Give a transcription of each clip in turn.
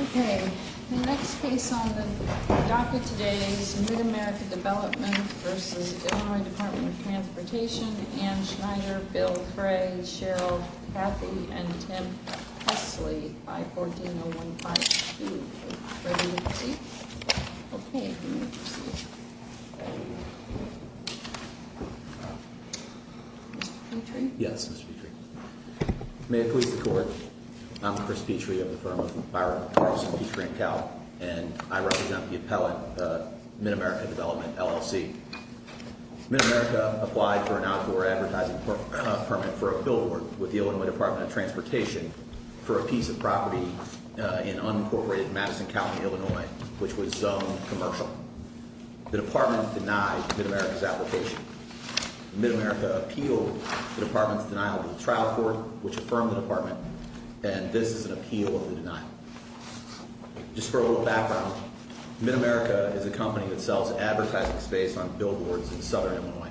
Okay, the next case on the docket today is Mid-America Development v. Illinois Department of Transportation Ann Schneider, Bill Cray, Cheryl Cathy, and Tim Hesley, 514-015-2. Ready to proceed? Okay, you may proceed. Mr. Petrie? Yes, Mr. Petrie. May it please the Court, I'm Chris Petrie of the firm of Byron, Carlson, Petrie & Cowell, and I represent the appellant, Mid-America Development, LLC. Mid-America applied for an outdoor advertising permit for a billboard with the Illinois Department of Transportation for a piece of property in unincorporated Madison County, Illinois, which was zoned commercial. The department denied Mid-America's application. Mid-America appealed the department's denial to the trial court, which affirmed the department, and this is an appeal of the denial. Just for a little background, Mid-America is a company that sells advertising space on billboards in southern Illinois.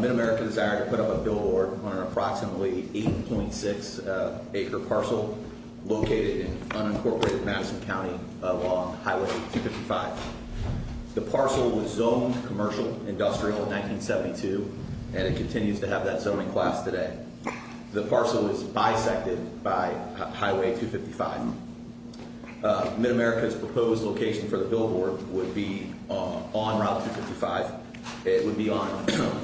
Mid-America desired to put up a billboard on an approximately 8.6 acre parcel located in unincorporated Madison County along Highway 255. The parcel was zoned commercial industrial in 1972, and it continues to have that zoning class today. The parcel is bisected by Highway 255. Mid-America's proposed location for the billboard would be on Route 255. It would be on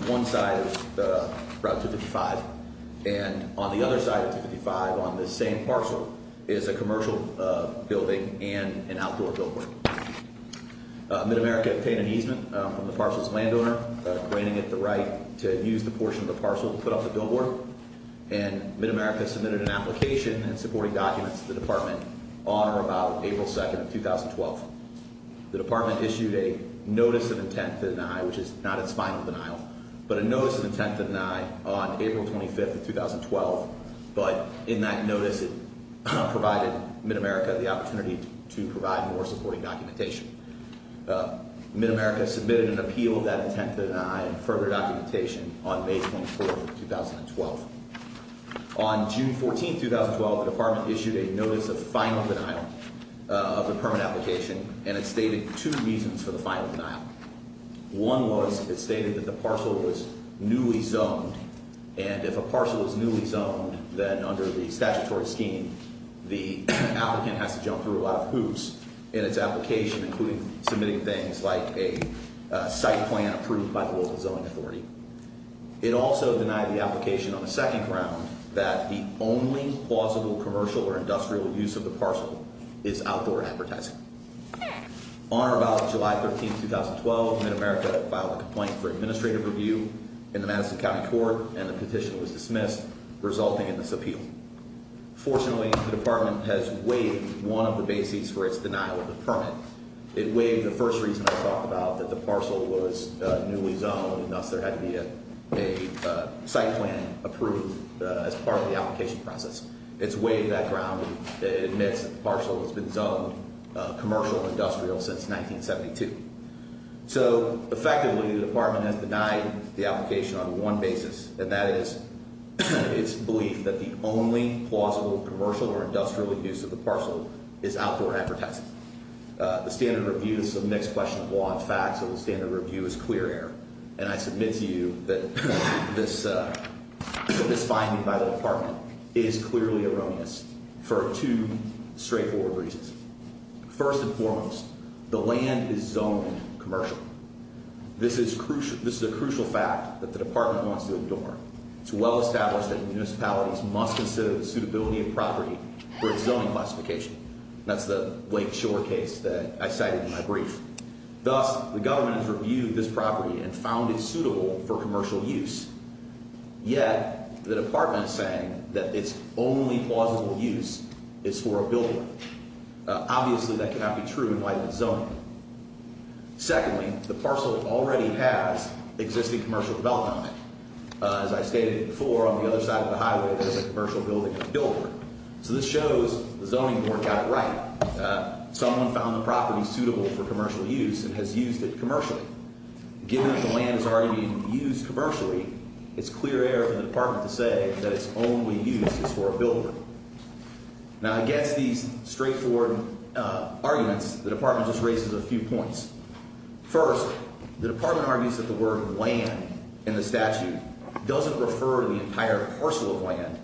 one side of Route 255, and on the other side of 255 on this same parcel is a commercial building and an outdoor billboard. Mid-America obtained an easement from the parcel's landowner, granting it the right to use the portion of the parcel to put up the billboard, and Mid-America submitted an application and supporting documents to the department on or about April 2nd of 2012. The department issued a notice of intent to deny, which is not its final denial, but a notice of intent to deny on April 25th of 2012, but in that notice it provided Mid-America the opportunity to provide more supporting documentation. Mid-America submitted an appeal of that intent to deny and further documentation on May 24th of 2012. On June 14th, 2012, the department issued a notice of final denial of the permit application, and it stated two reasons for the final denial. One was it stated that the parcel was newly zoned, and if a parcel is newly zoned, then under the statutory scheme, the applicant has to jump through a lot of hoops in its application, including submitting things like a site plan approved by the local zoning authority. It also denied the application on the second round that the only plausible commercial or industrial use of the parcel is outdoor advertising. On or about July 13th, 2012, Mid-America filed a complaint for administrative review in the Madison County Court, and the petition was dismissed, resulting in this appeal. Fortunately, the department has waived one of the basics for its denial of the permit. It waived the first reason I talked about, that the parcel was newly zoned, and thus there had to be a site plan approved as part of the application process. It's waived that ground and admits that the parcel has been zoned commercial or industrial since 1972. So effectively, the department has denied the application on one basis, and that is its belief that the only plausible commercial or industrial use of the parcel is outdoor advertising. The standard review is a mixed question of law and facts, so the standard review is clear error, and I submit to you that this finding by the department is clearly erroneous for two straightforward reasons. First and foremost, the land is zoned commercial. This is a crucial fact that the department wants to adorn. It's well established that municipalities must consider the suitability of property for its zoning classification. That's the Lake Shore case that I cited in my brief. Thus, the government has reviewed this property and found it suitable for commercial use, yet the department is saying that its only plausible use is for a building. Obviously, that cannot be true in light of the zoning. Secondly, the parcel already has existing commercial development on it. As I stated before, on the other side of the highway, there's a commercial building that's built. So this shows the zoning board got it right. Someone found the property suitable for commercial use and has used it commercially. Given that the land has already been used commercially, it's clear error for the department to say that its only use is for a building. Now, against these straightforward arguments, the department just raises a few points. First, the department argues that the word land in the statute doesn't refer to the entire parcel of land,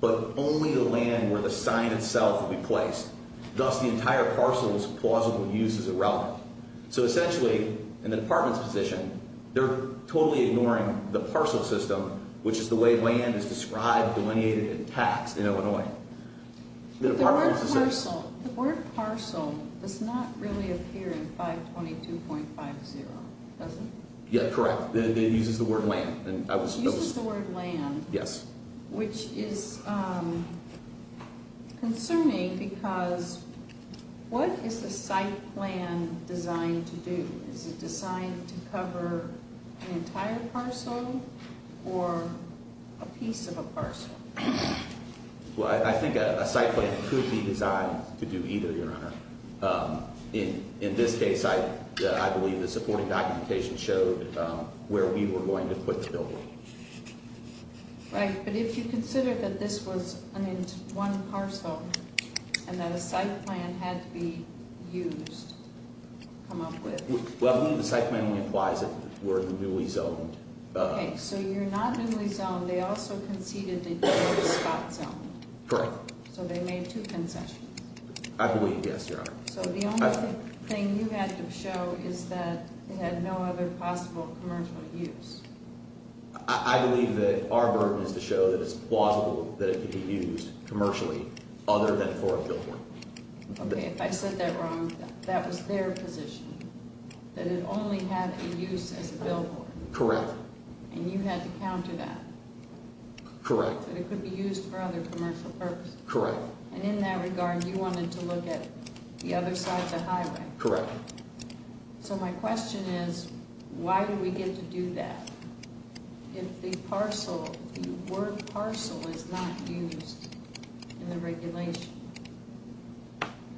but only the land where the sign itself will be placed. Thus, the entire parcel's plausible use is irrelevant. So essentially, in the department's position, they're totally ignoring the parcel system, which is the way land is described, delineated, and taxed in Illinois. The word parcel does not really appear in 522.50, does it? Yeah, correct. It uses the word land. It uses the word land, which is concerning because what is the site plan designed to do? Is it designed to cover an entire parcel or a piece of a parcel? Well, I think a site plan could be designed to do either, Your Honor. In this case, I believe the supporting documentation showed where we were going to put the building. Right, but if you consider that this was one parcel and that a site plan had to be used, come up with. Well, the site plan only implies that we're in the newly zoned. Okay, so you're not newly zoned. They also conceded that you were spot zoned. Correct. So they made two concessions. I believe, yes, Your Honor. So the only thing you had to show is that it had no other possible commercial use. I believe that our burden is to show that it's plausible that it could be used commercially other than for a billboard. Okay, if I said that wrong, that was their position, that it only had a use as a billboard. Correct. And you had to counter that. Correct. That it could be used for other commercial purposes. Correct. And in that regard, you wanted to look at the other side of the highway. Correct. So my question is, why do we get to do that if the word parcel is not used in the regulation?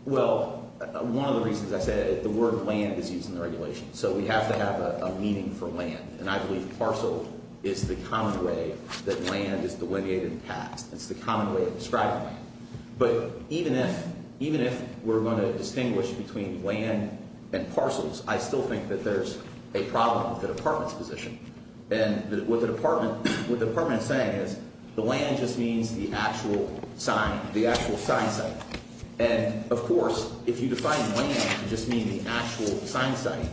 Well, one of the reasons I said it, the word land is used in the regulation. So we have to have a meaning for land. And I believe parcel is the common way that land is delineated in the past. It's the common way of describing land. But even if we're going to distinguish between land and parcels, I still think that there's a problem with the Department's position. And what the Department is saying is the land just means the actual sign, the actual sign site. And, of course, if you define land, you just mean the actual sign site.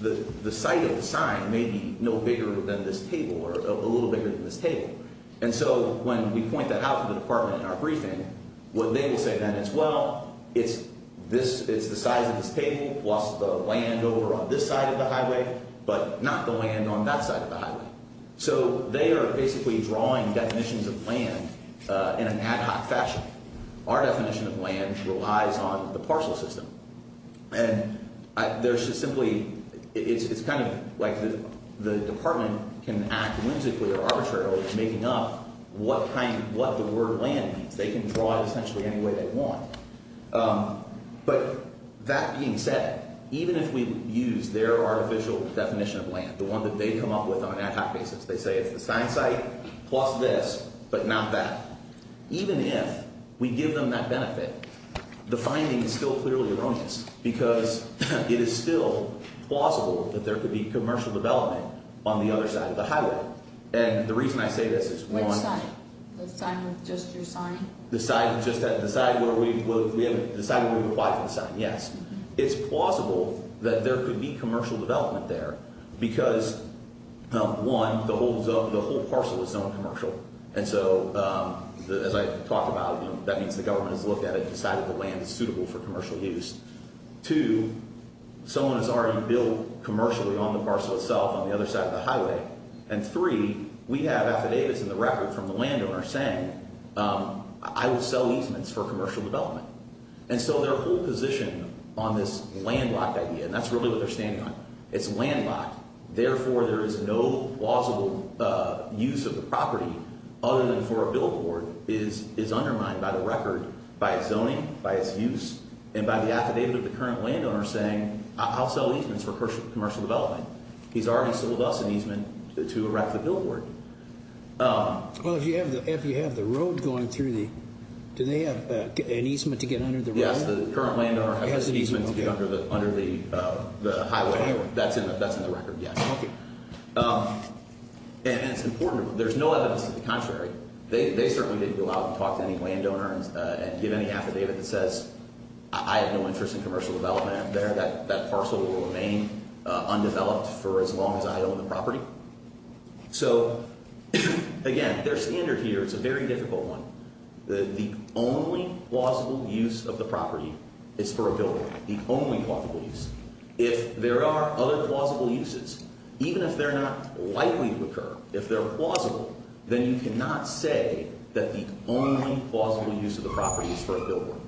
The site of the sign may be no bigger than this table or a little bigger than this table. And so when we point that out to the Department in our briefing, what they will say then is, well, it's the size of this table plus the land over on this side of the highway, but not the land on that side of the highway. So they are basically drawing definitions of land in an ad hoc fashion. Our definition of land relies on the parcel system. And there's just simply – it's kind of like the Department can act whimsically or arbitrarily making up what the word land means. They can draw it essentially any way they want. But that being said, even if we use their artificial definition of land, the one that they come up with on an ad hoc basis, they say it's the sign site plus this but not that. Even if we give them that benefit, the finding is still clearly erroneous because it is still plausible that there could be commercial development on the other side of the highway. And the reason I say this is, one – Which side? The side with just your sign? The side just – the side where we – the side where we would apply for the sign, yes. It's plausible that there could be commercial development there because, one, the whole parcel is zone commercial. And so as I talked about, that means the government has looked at it and decided the land is suitable for commercial use. Two, someone has already built commercially on the parcel itself on the other side of the highway. And three, we have affidavits in the record from the landowner saying I will sell easements for commercial development. And so their whole position on this landlocked idea – and that's really what they're standing on – it's landlocked. Therefore, there is no plausible use of the property other than for a billboard is undermined by the record, by its zoning, by its use, and by the affidavit of the current landowner saying I'll sell easements for commercial development. He's already sold us an easement to erect the billboard. Well, if you have the road going through the – do they have an easement to get under the road? Yes, the current landowner has an easement to get under the highway. That's in the record, yes. Okay. And it's important. There's no evidence to the contrary. They certainly didn't go out and talk to any landowner and give any affidavit that says I have no interest in commercial development up there. That parcel will remain undeveloped for as long as I own the property. So, again, their standard here is a very difficult one. The only plausible use of the property is for a billboard. The only plausible use. If there are other plausible uses, even if they're not likely to occur, if they're plausible, then you cannot say that the only plausible use of the property is for a billboard.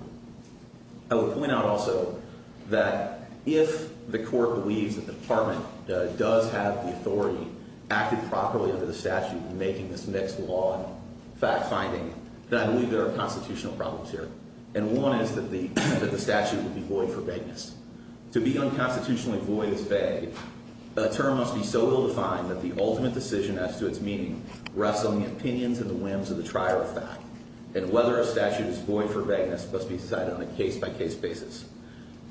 I would point out also that if the court believes that the department does have the authority, acted properly under the statute in making this mixed law and fact-finding, that I believe there are constitutional problems here. And one is that the statute would be void of forbiddance. To be unconstitutionally void is vague. A term must be so ill-defined that the ultimate decision as to its meaning rests on the opinions and the whims of the trier of fact. And whether a statute is void for vagueness must be decided on a case-by-case basis.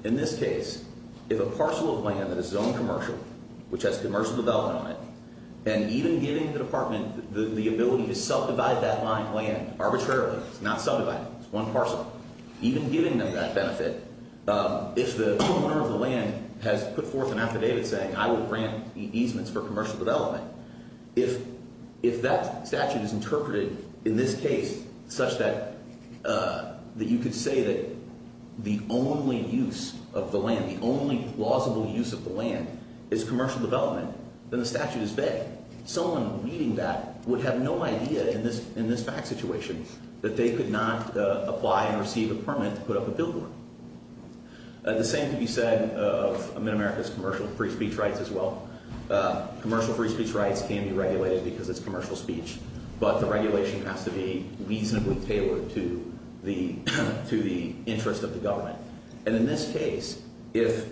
In this case, if a parcel of land that is zoned commercial, which has commercial development on it, and even giving the department the ability to subdivide that land arbitrarily, it's not subdividing, it's one parcel, even giving them that benefit, if the owner of the land has put forth an affidavit saying, I will grant easements for commercial development, if that statute is interpreted in this case such that you could say that the only use of the land, the only plausible use of the land, is commercial development, then the statute is vague. Someone reading that would have no idea in this fact situation that they could not apply and receive a permit to put up a billboard. The same can be said of America's commercial free speech rights as well. Commercial free speech rights can be regulated because it's commercial speech, but the regulation has to be reasonably tailored to the interest of the government. And in this case, if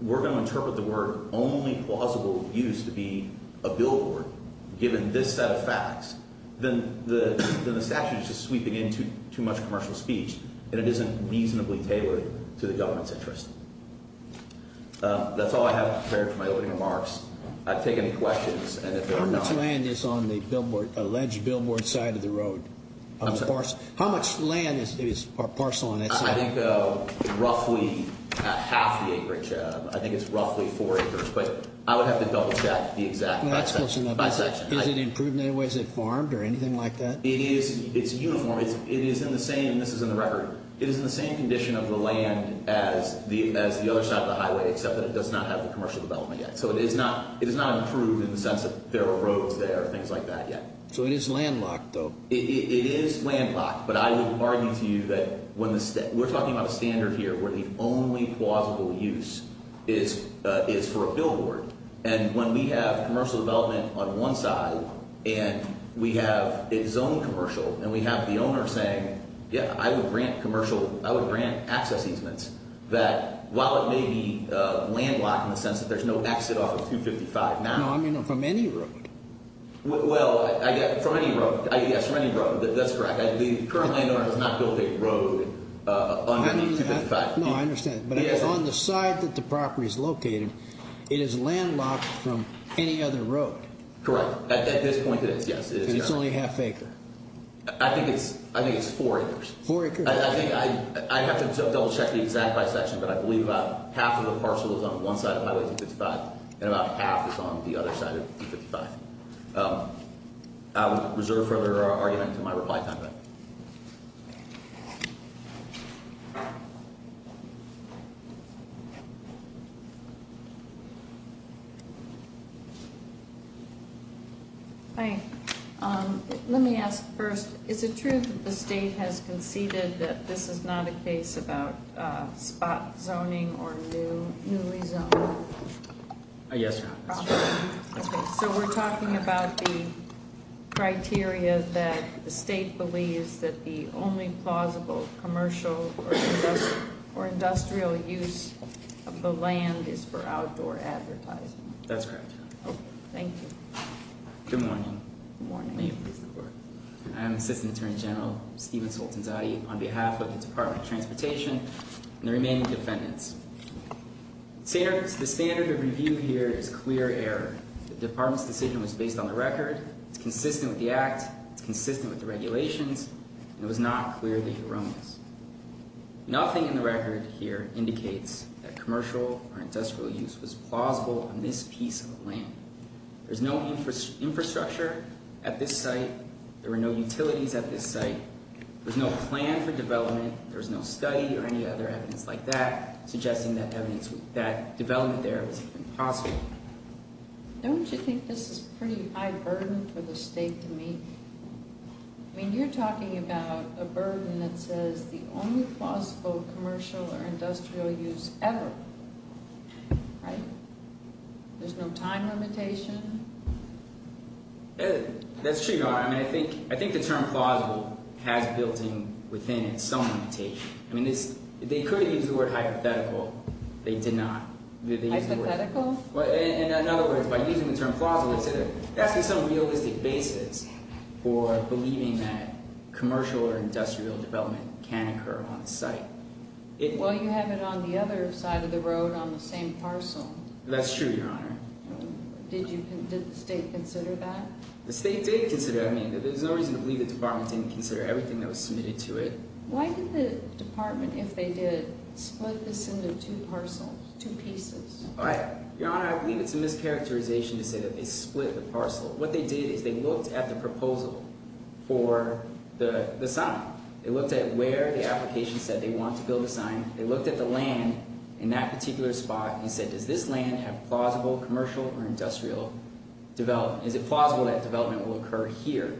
we're going to interpret the word only plausible use to be a billboard, given this set of facts, then the statute is just sweeping into too much commercial speech, and it isn't reasonably tailored to the government's interest. That's all I have prepared for my opening remarks. I'll take any questions, and if there are none— How much land is on the alleged billboard side of the road? I'm sorry? How much land is parcel on that side? I think roughly half the acreage. I think it's roughly four acres, but I would have to double-check the exact— Well, that's close enough. —by section. Is it improved in any way? Is it farmed or anything like that? It is—it's uniform. It is in the same—and this is in the record—it is in the same condition of the land as the other side of the highway, except that it does not have the commercial development yet. So it is not improved in the sense that there are roads there and things like that yet. So it is landlocked, though? It is landlocked, but I would argue to you that when the—we're talking about a standard here where the only plausible use is for a billboard, and when we have commercial development on one side and we have it zoned commercial and we have the owner saying, yeah, I would grant commercial—I would grant access easements, that while it may be landlocked in the sense that there's no exit off of 255 now— No, I mean from any road. Well, from any road. Yes, from any road. That's correct. The current landlord has not built a road on the 255. No, I understand. But on the side that the property is located, it is landlocked from any other road. Correct. At this point, it is. Yes, it is. And it's only a half acre. I think it's four acres. Four acres? I think—I have to double-check the exact by section, but I believe about half of the parcel is on one side of Highway 255 and about half is on the other side of 255. I will reserve further argument until my reply time then. Hi. Let me ask first, is it true that the state has conceded that this is not a case about spot zoning or newly zoning? Yes, ma'am. That's correct. So we're talking about the criteria that the state believes that the only plausible commercial or industrial use of the land is for outdoor advertising. That's correct. Okay, thank you. Good morning. Good morning. May it please the Court. I am Assistant Attorney General Steven Sultanzadeh on behalf of the Department of Transportation and the remaining defendants. The standard of review here is clear error. The Department's decision was based on the record. It's consistent with the Act. It's consistent with the regulations. And it was not clearly erroneous. Nothing in the record here indicates that commercial or industrial use was plausible on this piece of land. There's no infrastructure at this site. There were no utilities at this site. There's no plan for development. There's no study or any other evidence like that suggesting that development there was even possible. Don't you think this is pretty high burden for the state to meet? I mean, you're talking about a burden that says the only plausible commercial or industrial use ever, right? There's no time limitation? That's true, Your Honor. I mean, I think the term plausible has built in within it some limitation. I mean, they could have used the word hypothetical. They did not. Hypothetical? In other words, by using the term plausible, it's asking some realistic basis for believing that commercial or industrial development can occur on the site. Well, you have it on the other side of the road on the same parcel. That's true, Your Honor. Did the state consider that? The state did consider it. I mean, there's no reason to believe the department didn't consider everything that was submitted to it. Why did the department, if they did, split this into two parcels, two pieces? Your Honor, I believe it's a mischaracterization to say that they split the parcel. What they did is they looked at the proposal for the site. They looked at where the application said they want to build a sign. They looked at the land in that particular spot and said, does this land have plausible commercial or industrial development? Is it plausible that development will occur here?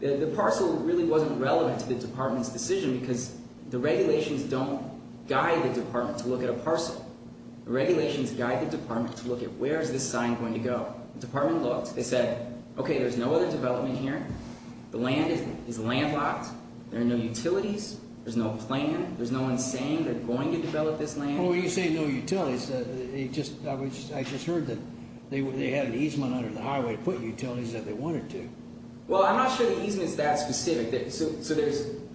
The parcel really wasn't relevant to the department's decision because the regulations don't guide the department to look at a parcel. The regulations guide the department to look at where is this sign going to go. The department looked. They said, okay, there's no other development here. The land is landlocked. There are no utilities. There's no plan. There's no one saying they're going to develop this land. Well, when you say no utilities, I just heard that they had an easement under the highway to put utilities if they wanted to. Well, I'm not sure the easement is that specific. So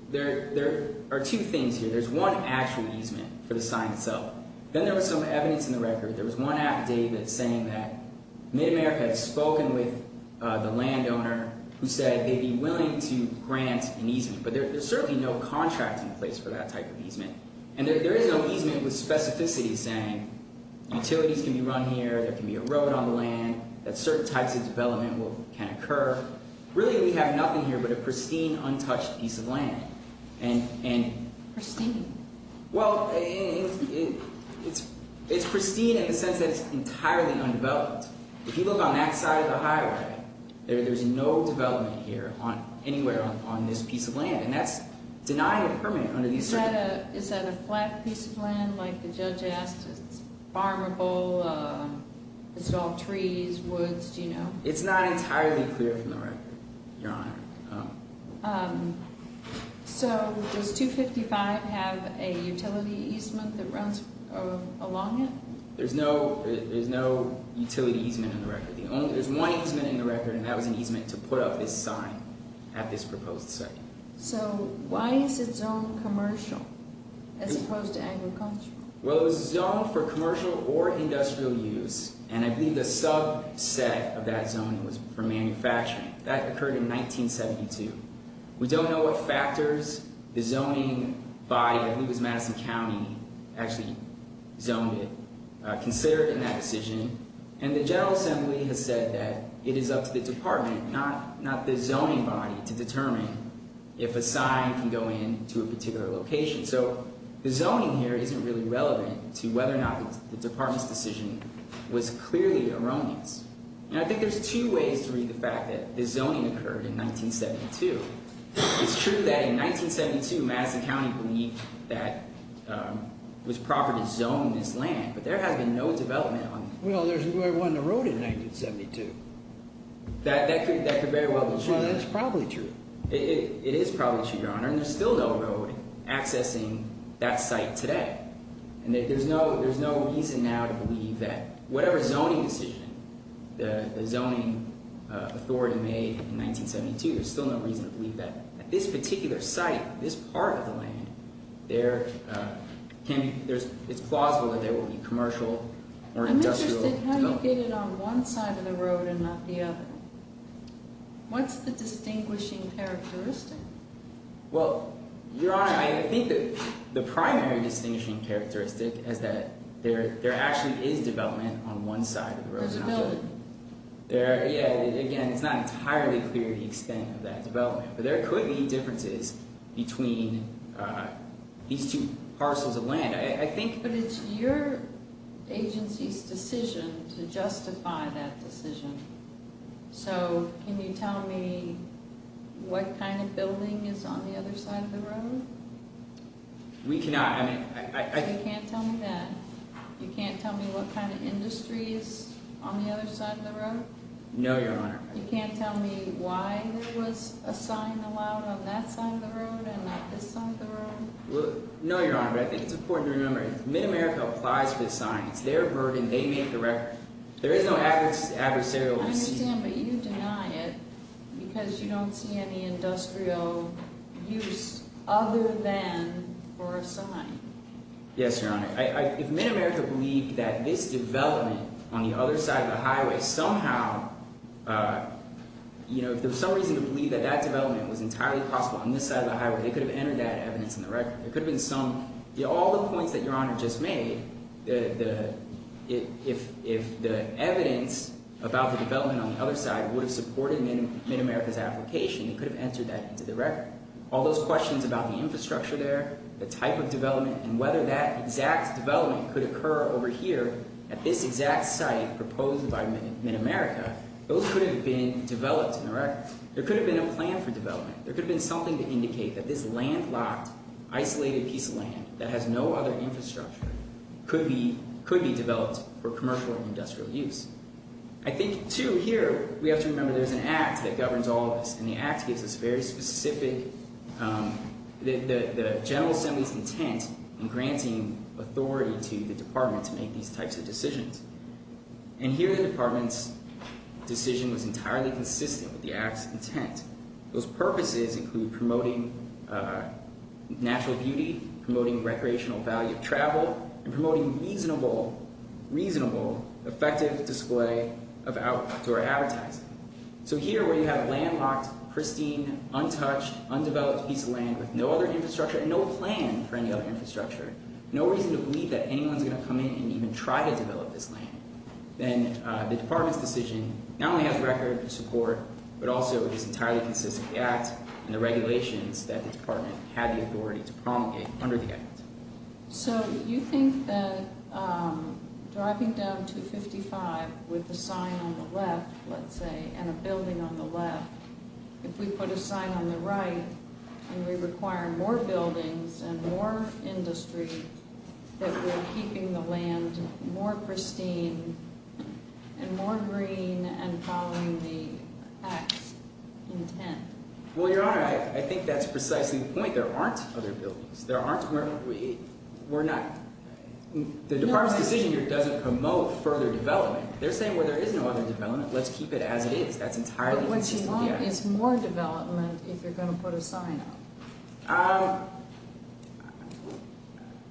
there are two things here. There's one actual easement for the sign itself. Then there was some evidence in the record. There was one affidavit saying that Mid-America had spoken with the landowner who said they'd be willing to grant an easement. But there's certainly no contract in place for that type of easement. And there is no easement with specificity saying utilities can be run here, there can be a road on the land, that certain types of development can occur. Really, we have nothing here but a pristine, untouched piece of land. Pristine? Well, it's pristine in the sense that it's entirely undeveloped. If you look on that side of the highway, there's no development here anywhere on this piece of land. And that's denying a permit under these circumstances. Is that a flat piece of land like the judge asked? Is it farmable? Is it all trees, woods? Do you know? It's not entirely clear from the record, Your Honor. So does 255 have a utility easement that runs along it? There's no utility easement in the record. There's one easement in the record, and that was an easement to put up this sign at this proposed site. So why is it zoned commercial as opposed to agricultural? Well, it was zoned for commercial or industrial use, and I believe the subset of that zoning was for manufacturing. That occurred in 1972. We don't know what factors the zoning body at Lewis Madison County actually zoned it. Consider it in that decision. And the General Assembly has said that it is up to the department, not the zoning body, to determine if a sign can go in to a particular location. So the zoning here isn't really relevant to whether or not the department's decision was clearly erroneous. And I think there's two ways to read the fact that the zoning occurred in 1972. It's true that in 1972, Madison County believed that it was proper to zone this land, but there has been no development on it. Well, there was no road in 1972. That could very well be true. Well, that's probably true. It is probably true, Your Honor, and there's still no road accessing that site today. And there's no reason now to believe that whatever zoning decision the zoning authority made in 1972, there's still no reason to believe that at this particular site, this part of the land, it's plausible that there will be commercial or industrial development. I'm interested in how you get it on one side of the road and not the other. What's the distinguishing characteristic? Well, Your Honor, I think that the primary distinguishing characteristic is that there actually is development on one side of the road. There's a building. Again, it's not entirely clear the extent of that development. But there could be differences between these two parcels of land. But it's your agency's decision to justify that decision. So can you tell me what kind of building is on the other side of the road? We cannot. You can't tell me that. You can't tell me what kind of industry is on the other side of the road? No, Your Honor. You can't tell me why there was a sign allowed on that side of the road and not this side of the road? No, Your Honor, but I think it's important to remember that MidAmerica applies for the sign. It's their burden. They make the record. There is no adversarial receipt. I understand, but you deny it because you don't see any industrial use other than for a sign. Yes, Your Honor. If MidAmerica believed that this development on the other side of the highway somehow, you know, if there was some reason to believe that that development was entirely possible on this side of the highway, they could have entered that evidence in the record. All the points that Your Honor just made, if the evidence about the development on the other side would have supported MidAmerica's application, they could have entered that into the record. All those questions about the infrastructure there, the type of development, and whether that exact development could occur over here at this exact site proposed by MidAmerica, those could have been developed in the record. There could have been a plan for development. There could have been something to indicate that this landlocked, isolated piece of land that has no other infrastructure could be developed for commercial or industrial use. I think, too, here we have to remember there's an Act that governs all of this, and the Act gives us very specific, the General Assembly's intent in granting authority to the Department to make these types of decisions. And here the Department's decision was entirely consistent with the Act's intent. Those purposes include promoting natural beauty, promoting recreational value of travel, and promoting reasonable, effective display of outdoor advertising. So here where you have a landlocked, pristine, untouched, undeveloped piece of land with no other infrastructure and no plan for any other infrastructure, no reason to believe that anyone's going to come in and even try to develop this land, then the Department's decision not only has record and support, but also is entirely consistent with the Act and the regulations that the Department had the authority to promulgate under the Act. So you think that driving down 255 with a sign on the left, let's say, and a building on the left, if we put a sign on the right and we require more buildings and more industry that we're keeping the land more pristine and more green and following the Act's intent? Well, Your Honor, I think that's precisely the point. There aren't other buildings. There aren't – we're not – the Department's decision here doesn't promote further development. They're saying, well, there is no other development. Let's keep it as it is. That's entirely consistent with the Act. But what you want is more development if you're going to put a sign up.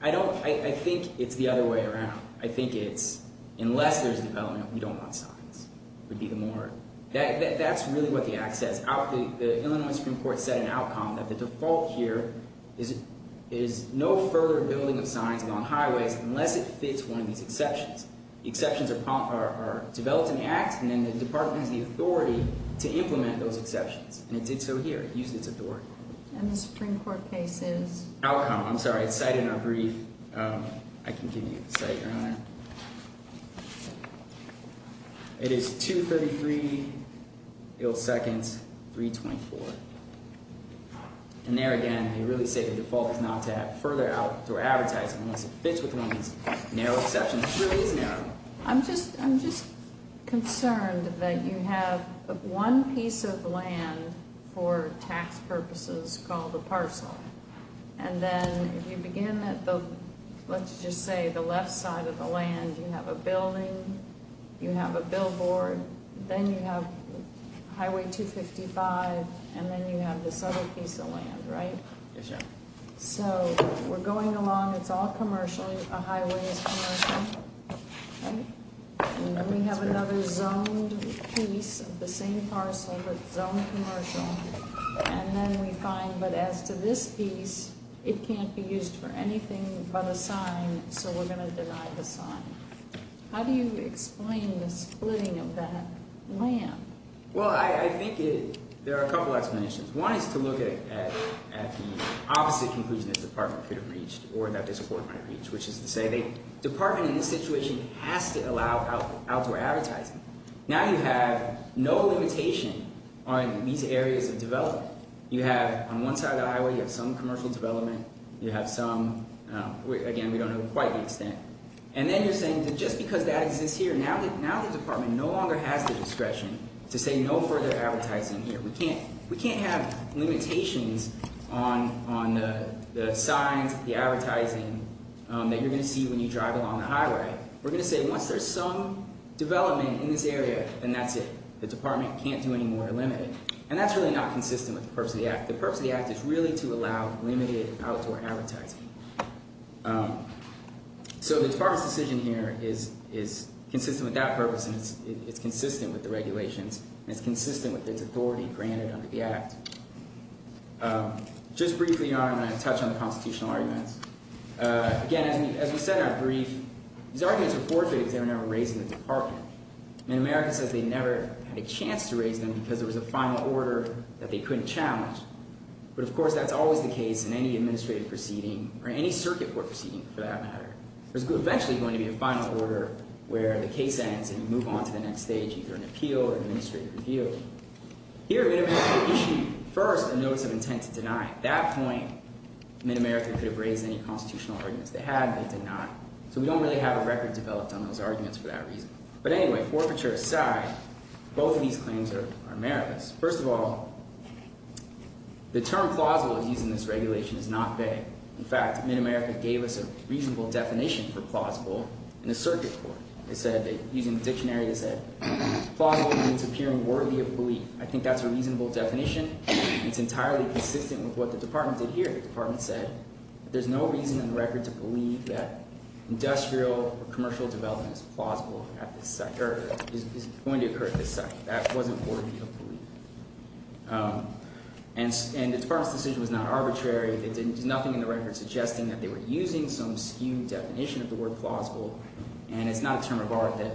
I don't – I think it's the other way around. I think it's unless there's development, we don't want signs. It would be the more – that's really what the Act says. The Illinois Supreme Court set an outcome that the default here is no further building of signs along highways unless it fits one of these exceptions. The exceptions are developed in the Act, and then the Department has the authority to implement those exceptions. And it did so here. It used its authority. And the Supreme Court case is? Outcome. I'm sorry. It's cited in our brief. I can give you the cite, Your Honor. It is 233 ill seconds, 324. And there again, they really say the default is not to have further outdoor advertising unless it fits with one of these narrow exceptions. It really is narrow. I'm just concerned that you have one piece of land for tax purposes called a parcel. And then if you begin at the – let's just say the left side of the land, you have a building, you have a billboard, then you have Highway 255, and then you have this other piece of land, right? Yes, ma'am. So we're going along. It's all commercial. A highway is commercial, right? And then we have another zoned piece of the same parcel, but zoned commercial. And then we find, but as to this piece, it can't be used for anything but a sign, so we're going to deny the sign. How do you explain the splitting of that land? Well, I think there are a couple explanations. One is to look at the opposite conclusion this department could have reached or that this court might have reached, which is to say the department in this situation has to allow outdoor advertising. Now you have no limitation on these areas of development. You have on one side of the highway, you have some commercial development. You have some – again, we don't know quite the extent. And then you're saying that just because that exists here, now the department no longer has the discretion to say no further advertising here. We can't have limitations on the signs, the advertising that you're going to see when you drive along the highway. We're going to say once there's some development in this area, then that's it. The department can't do any more to limit it. And that's really not consistent with the purpose of the act. The purpose of the act is really to allow limited outdoor advertising. So the department's decision here is consistent with that purpose and it's consistent with the regulations and it's consistent with its authority granted under the act. Just briefly, Your Honor, I'm going to touch on the constitutional arguments. Again, as we said in our brief, these arguments were forfeited because they were never raised in the department. And America says they never had a chance to raise them because there was a final order that they couldn't challenge. But, of course, that's always the case in any administrative proceeding or any circuit court proceeding for that matter. There's eventually going to be a final order where the case ends and you move on to the next stage, either an appeal or an administrative review. Here, Mid-America issued first a notice of intent to deny. At that point, Mid-America could have raised any constitutional arguments they had. They did not. So we don't really have a record developed on those arguments for that reason. But anyway, forfeiture aside, both of these claims are America's. First of all, the term plausible used in this regulation is not vague. In fact, Mid-America gave us a reasonable definition for plausible in the circuit court. It said, using the dictionary, it said, plausible means appearing worthy of belief. I think that's a reasonable definition. It's entirely consistent with what the department did here. The department said there's no reason in the record to believe that industrial or commercial development is plausible at this site or is going to occur at this site. That wasn't worthy of belief. And the department's decision was not arbitrary. There's nothing in the record suggesting that they were using some skewed definition of the word plausible, and it's not a term of art that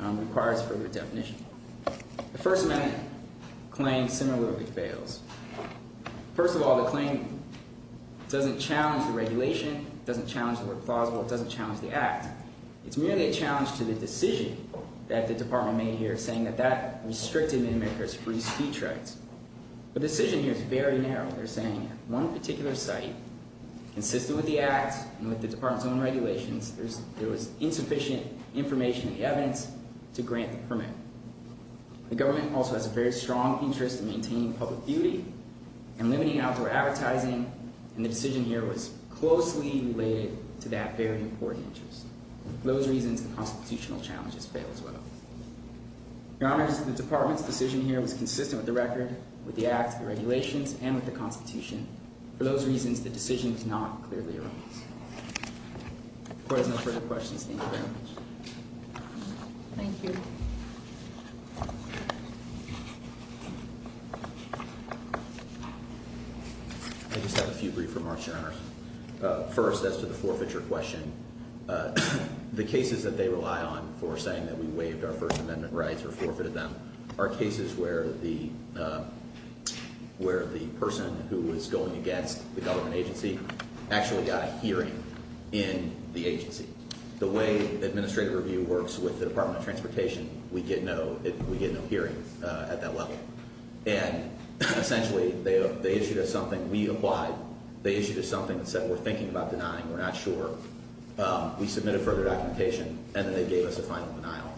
requires further definition. The First Amendment claim similarly fails. First of all, the claim doesn't challenge the regulation. It doesn't challenge the word plausible. It doesn't challenge the act. It's merely a challenge to the decision that the department made here, saying that that restricted Mid-America's free speech rights. The decision here is very narrow, they're saying. At one particular site, consistent with the act and with the department's own regulations, there was insufficient information and evidence to grant the permit. The government also has a very strong interest in maintaining public beauty and limiting outdoor advertising, and the decision here was closely related to that very important interest. For those reasons, the constitutional challenges fail as well. Your Honors, the department's decision here was consistent with the record, with the act, the regulations, and with the Constitution. For those reasons, the decision does not clearly arise. If there are no further questions, thank you very much. Thank you. I just have a few brief remarks, Your Honors. First, as to the forfeiture question, the cases that they rely on for saying that we waived our First Amendment rights or forfeited them are cases where the person who was going against the government agency actually got a hearing in the agency. The way administrative review works with the Department of Transportation, we get no hearings at that level. And essentially, they issued us something. We applied. They issued us something that said we're thinking about denying, we're not sure. We submitted further documentation, and then they gave us a final denial.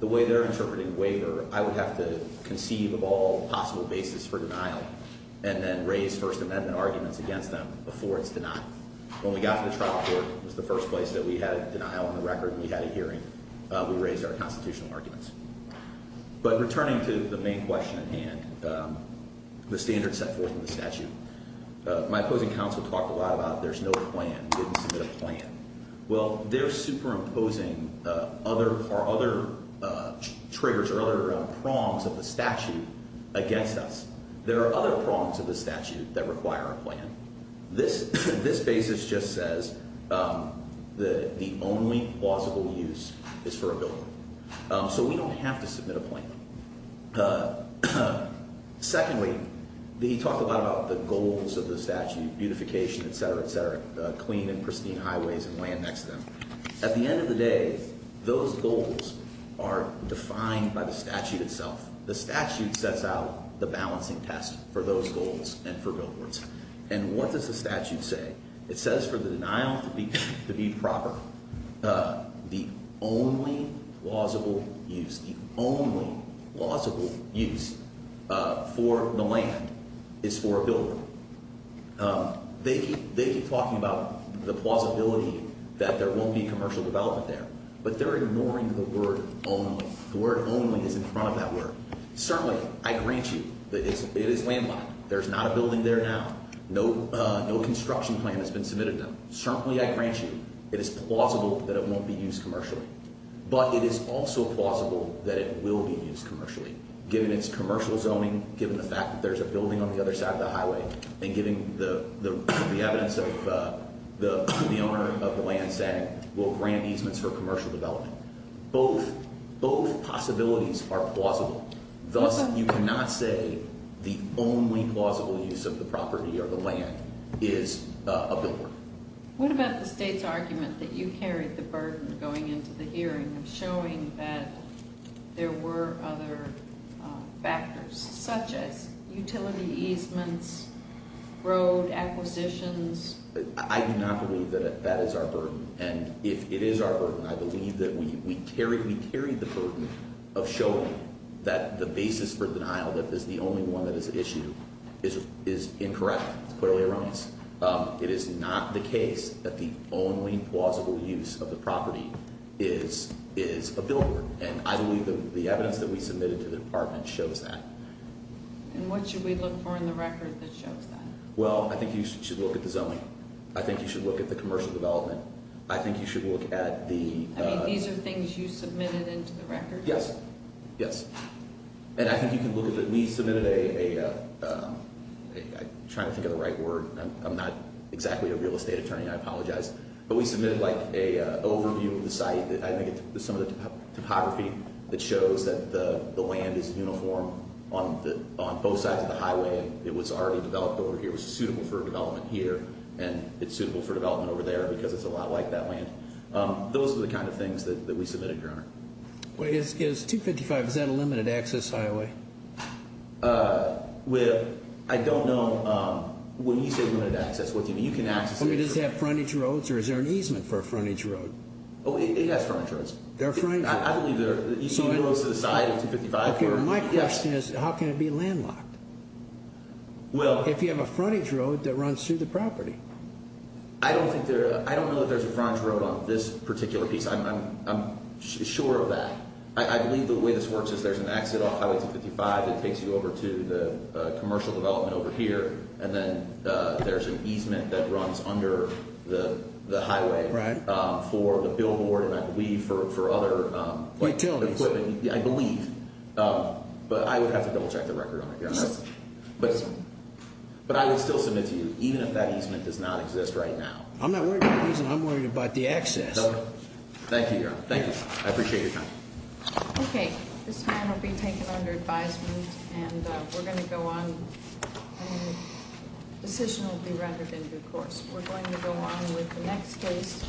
The way they're interpreting waiver, I would have to conceive of all possible basis for denial and then raise First Amendment arguments against them before it's denied. When we got to the trial court, it was the first place that we had a denial on the record and we had a hearing. We raised our constitutional arguments. But returning to the main question at hand, the standards set forth in the statute, my opposing counsel talked a lot about there's no plan, didn't submit a plan. Well, they're superimposing our other triggers or other prongs of the statute against us. There are other prongs of the statute that require a plan. This basis just says the only plausible use is for a building. So we don't have to submit a plan. Secondly, he talked a lot about the goals of the statute, beautification, etc., etc., clean and pristine highways and land next to them. At the end of the day, those goals are defined by the statute itself. The statute sets out the balancing test for those goals and for billboards. And what does the statute say? It says for the denial to be proper, the only plausible use, the only plausible use for the land is for a building. They keep talking about the plausibility that there won't be commercial development there. But they're ignoring the word only. The word only is in front of that word. Certainly, I grant you that it is landlocked. There's not a building there now. No construction plan has been submitted now. Certainly, I grant you it is plausible that it won't be used commercially. But it is also plausible that it will be used commercially, given its commercial zoning, given the fact that there's a building on the other side of the highway, and given the evidence of the owner of the land saying we'll grant easements for commercial development. Both possibilities are plausible. Thus, you cannot say the only plausible use of the property or the land is a billboard. What about the state's argument that you carried the burden going into the hearing of showing that there were other factors, such as utility easements, road acquisitions? I do not believe that that is our burden. And if it is our burden, I believe that we carried the burden of showing that the basis for denial, that this is the only one that is an issue, is incorrect. It's clearly erroneous. It is not the case that the only plausible use of the property is a billboard. And I believe that the evidence that we submitted to the department shows that. And what should we look for in the record that shows that? Well, I think you should look at the zoning. I think you should look at the commercial development. I think you should look at the— I mean, these are things you submitted into the record? Yes. Yes. And I think you can look at—we submitted a—I'm trying to think of the right word. I'm not exactly a real estate attorney. I apologize. But we submitted, like, an overview of the site. I think it's some of the topography that shows that the land is uniform on both sides of the highway. It was already developed over here. It was suitable for development here, and it's suitable for development over there because it's a lot like that land. Those are the kind of things that we submitted, Your Honor. Well, it's 255. Is that a limited-access highway? Well, I don't know. When you say limited access, what do you mean? I mean, does it have frontage roads, or is there an easement for a frontage road? Oh, it has frontage roads. There are frontage roads. I believe there are—you see the roads to the side of 255? Okay, my question is, how can it be landlocked? Well— If you have a frontage road that runs through the property. I don't think there—I don't know that there's a frontage road on this particular piece. I'm sure of that. I believe the way this works is there's an exit off Highway 255 that takes you over to the commercial development over here, and then there's an easement that runs under the highway for the billboard and, I believe, for other— Utilities. I believe. But I would have to double-check the record on it, Your Honor. But I would still submit to you, even if that easement does not exist right now. I'm not worried about the easement. I'm worried about the access. Thank you, Your Honor. Thank you. I appreciate your time. Okay. This man will be taken under advisement, and we're going to go on— The decision will be rendered in due course. We're going to go on with the next case.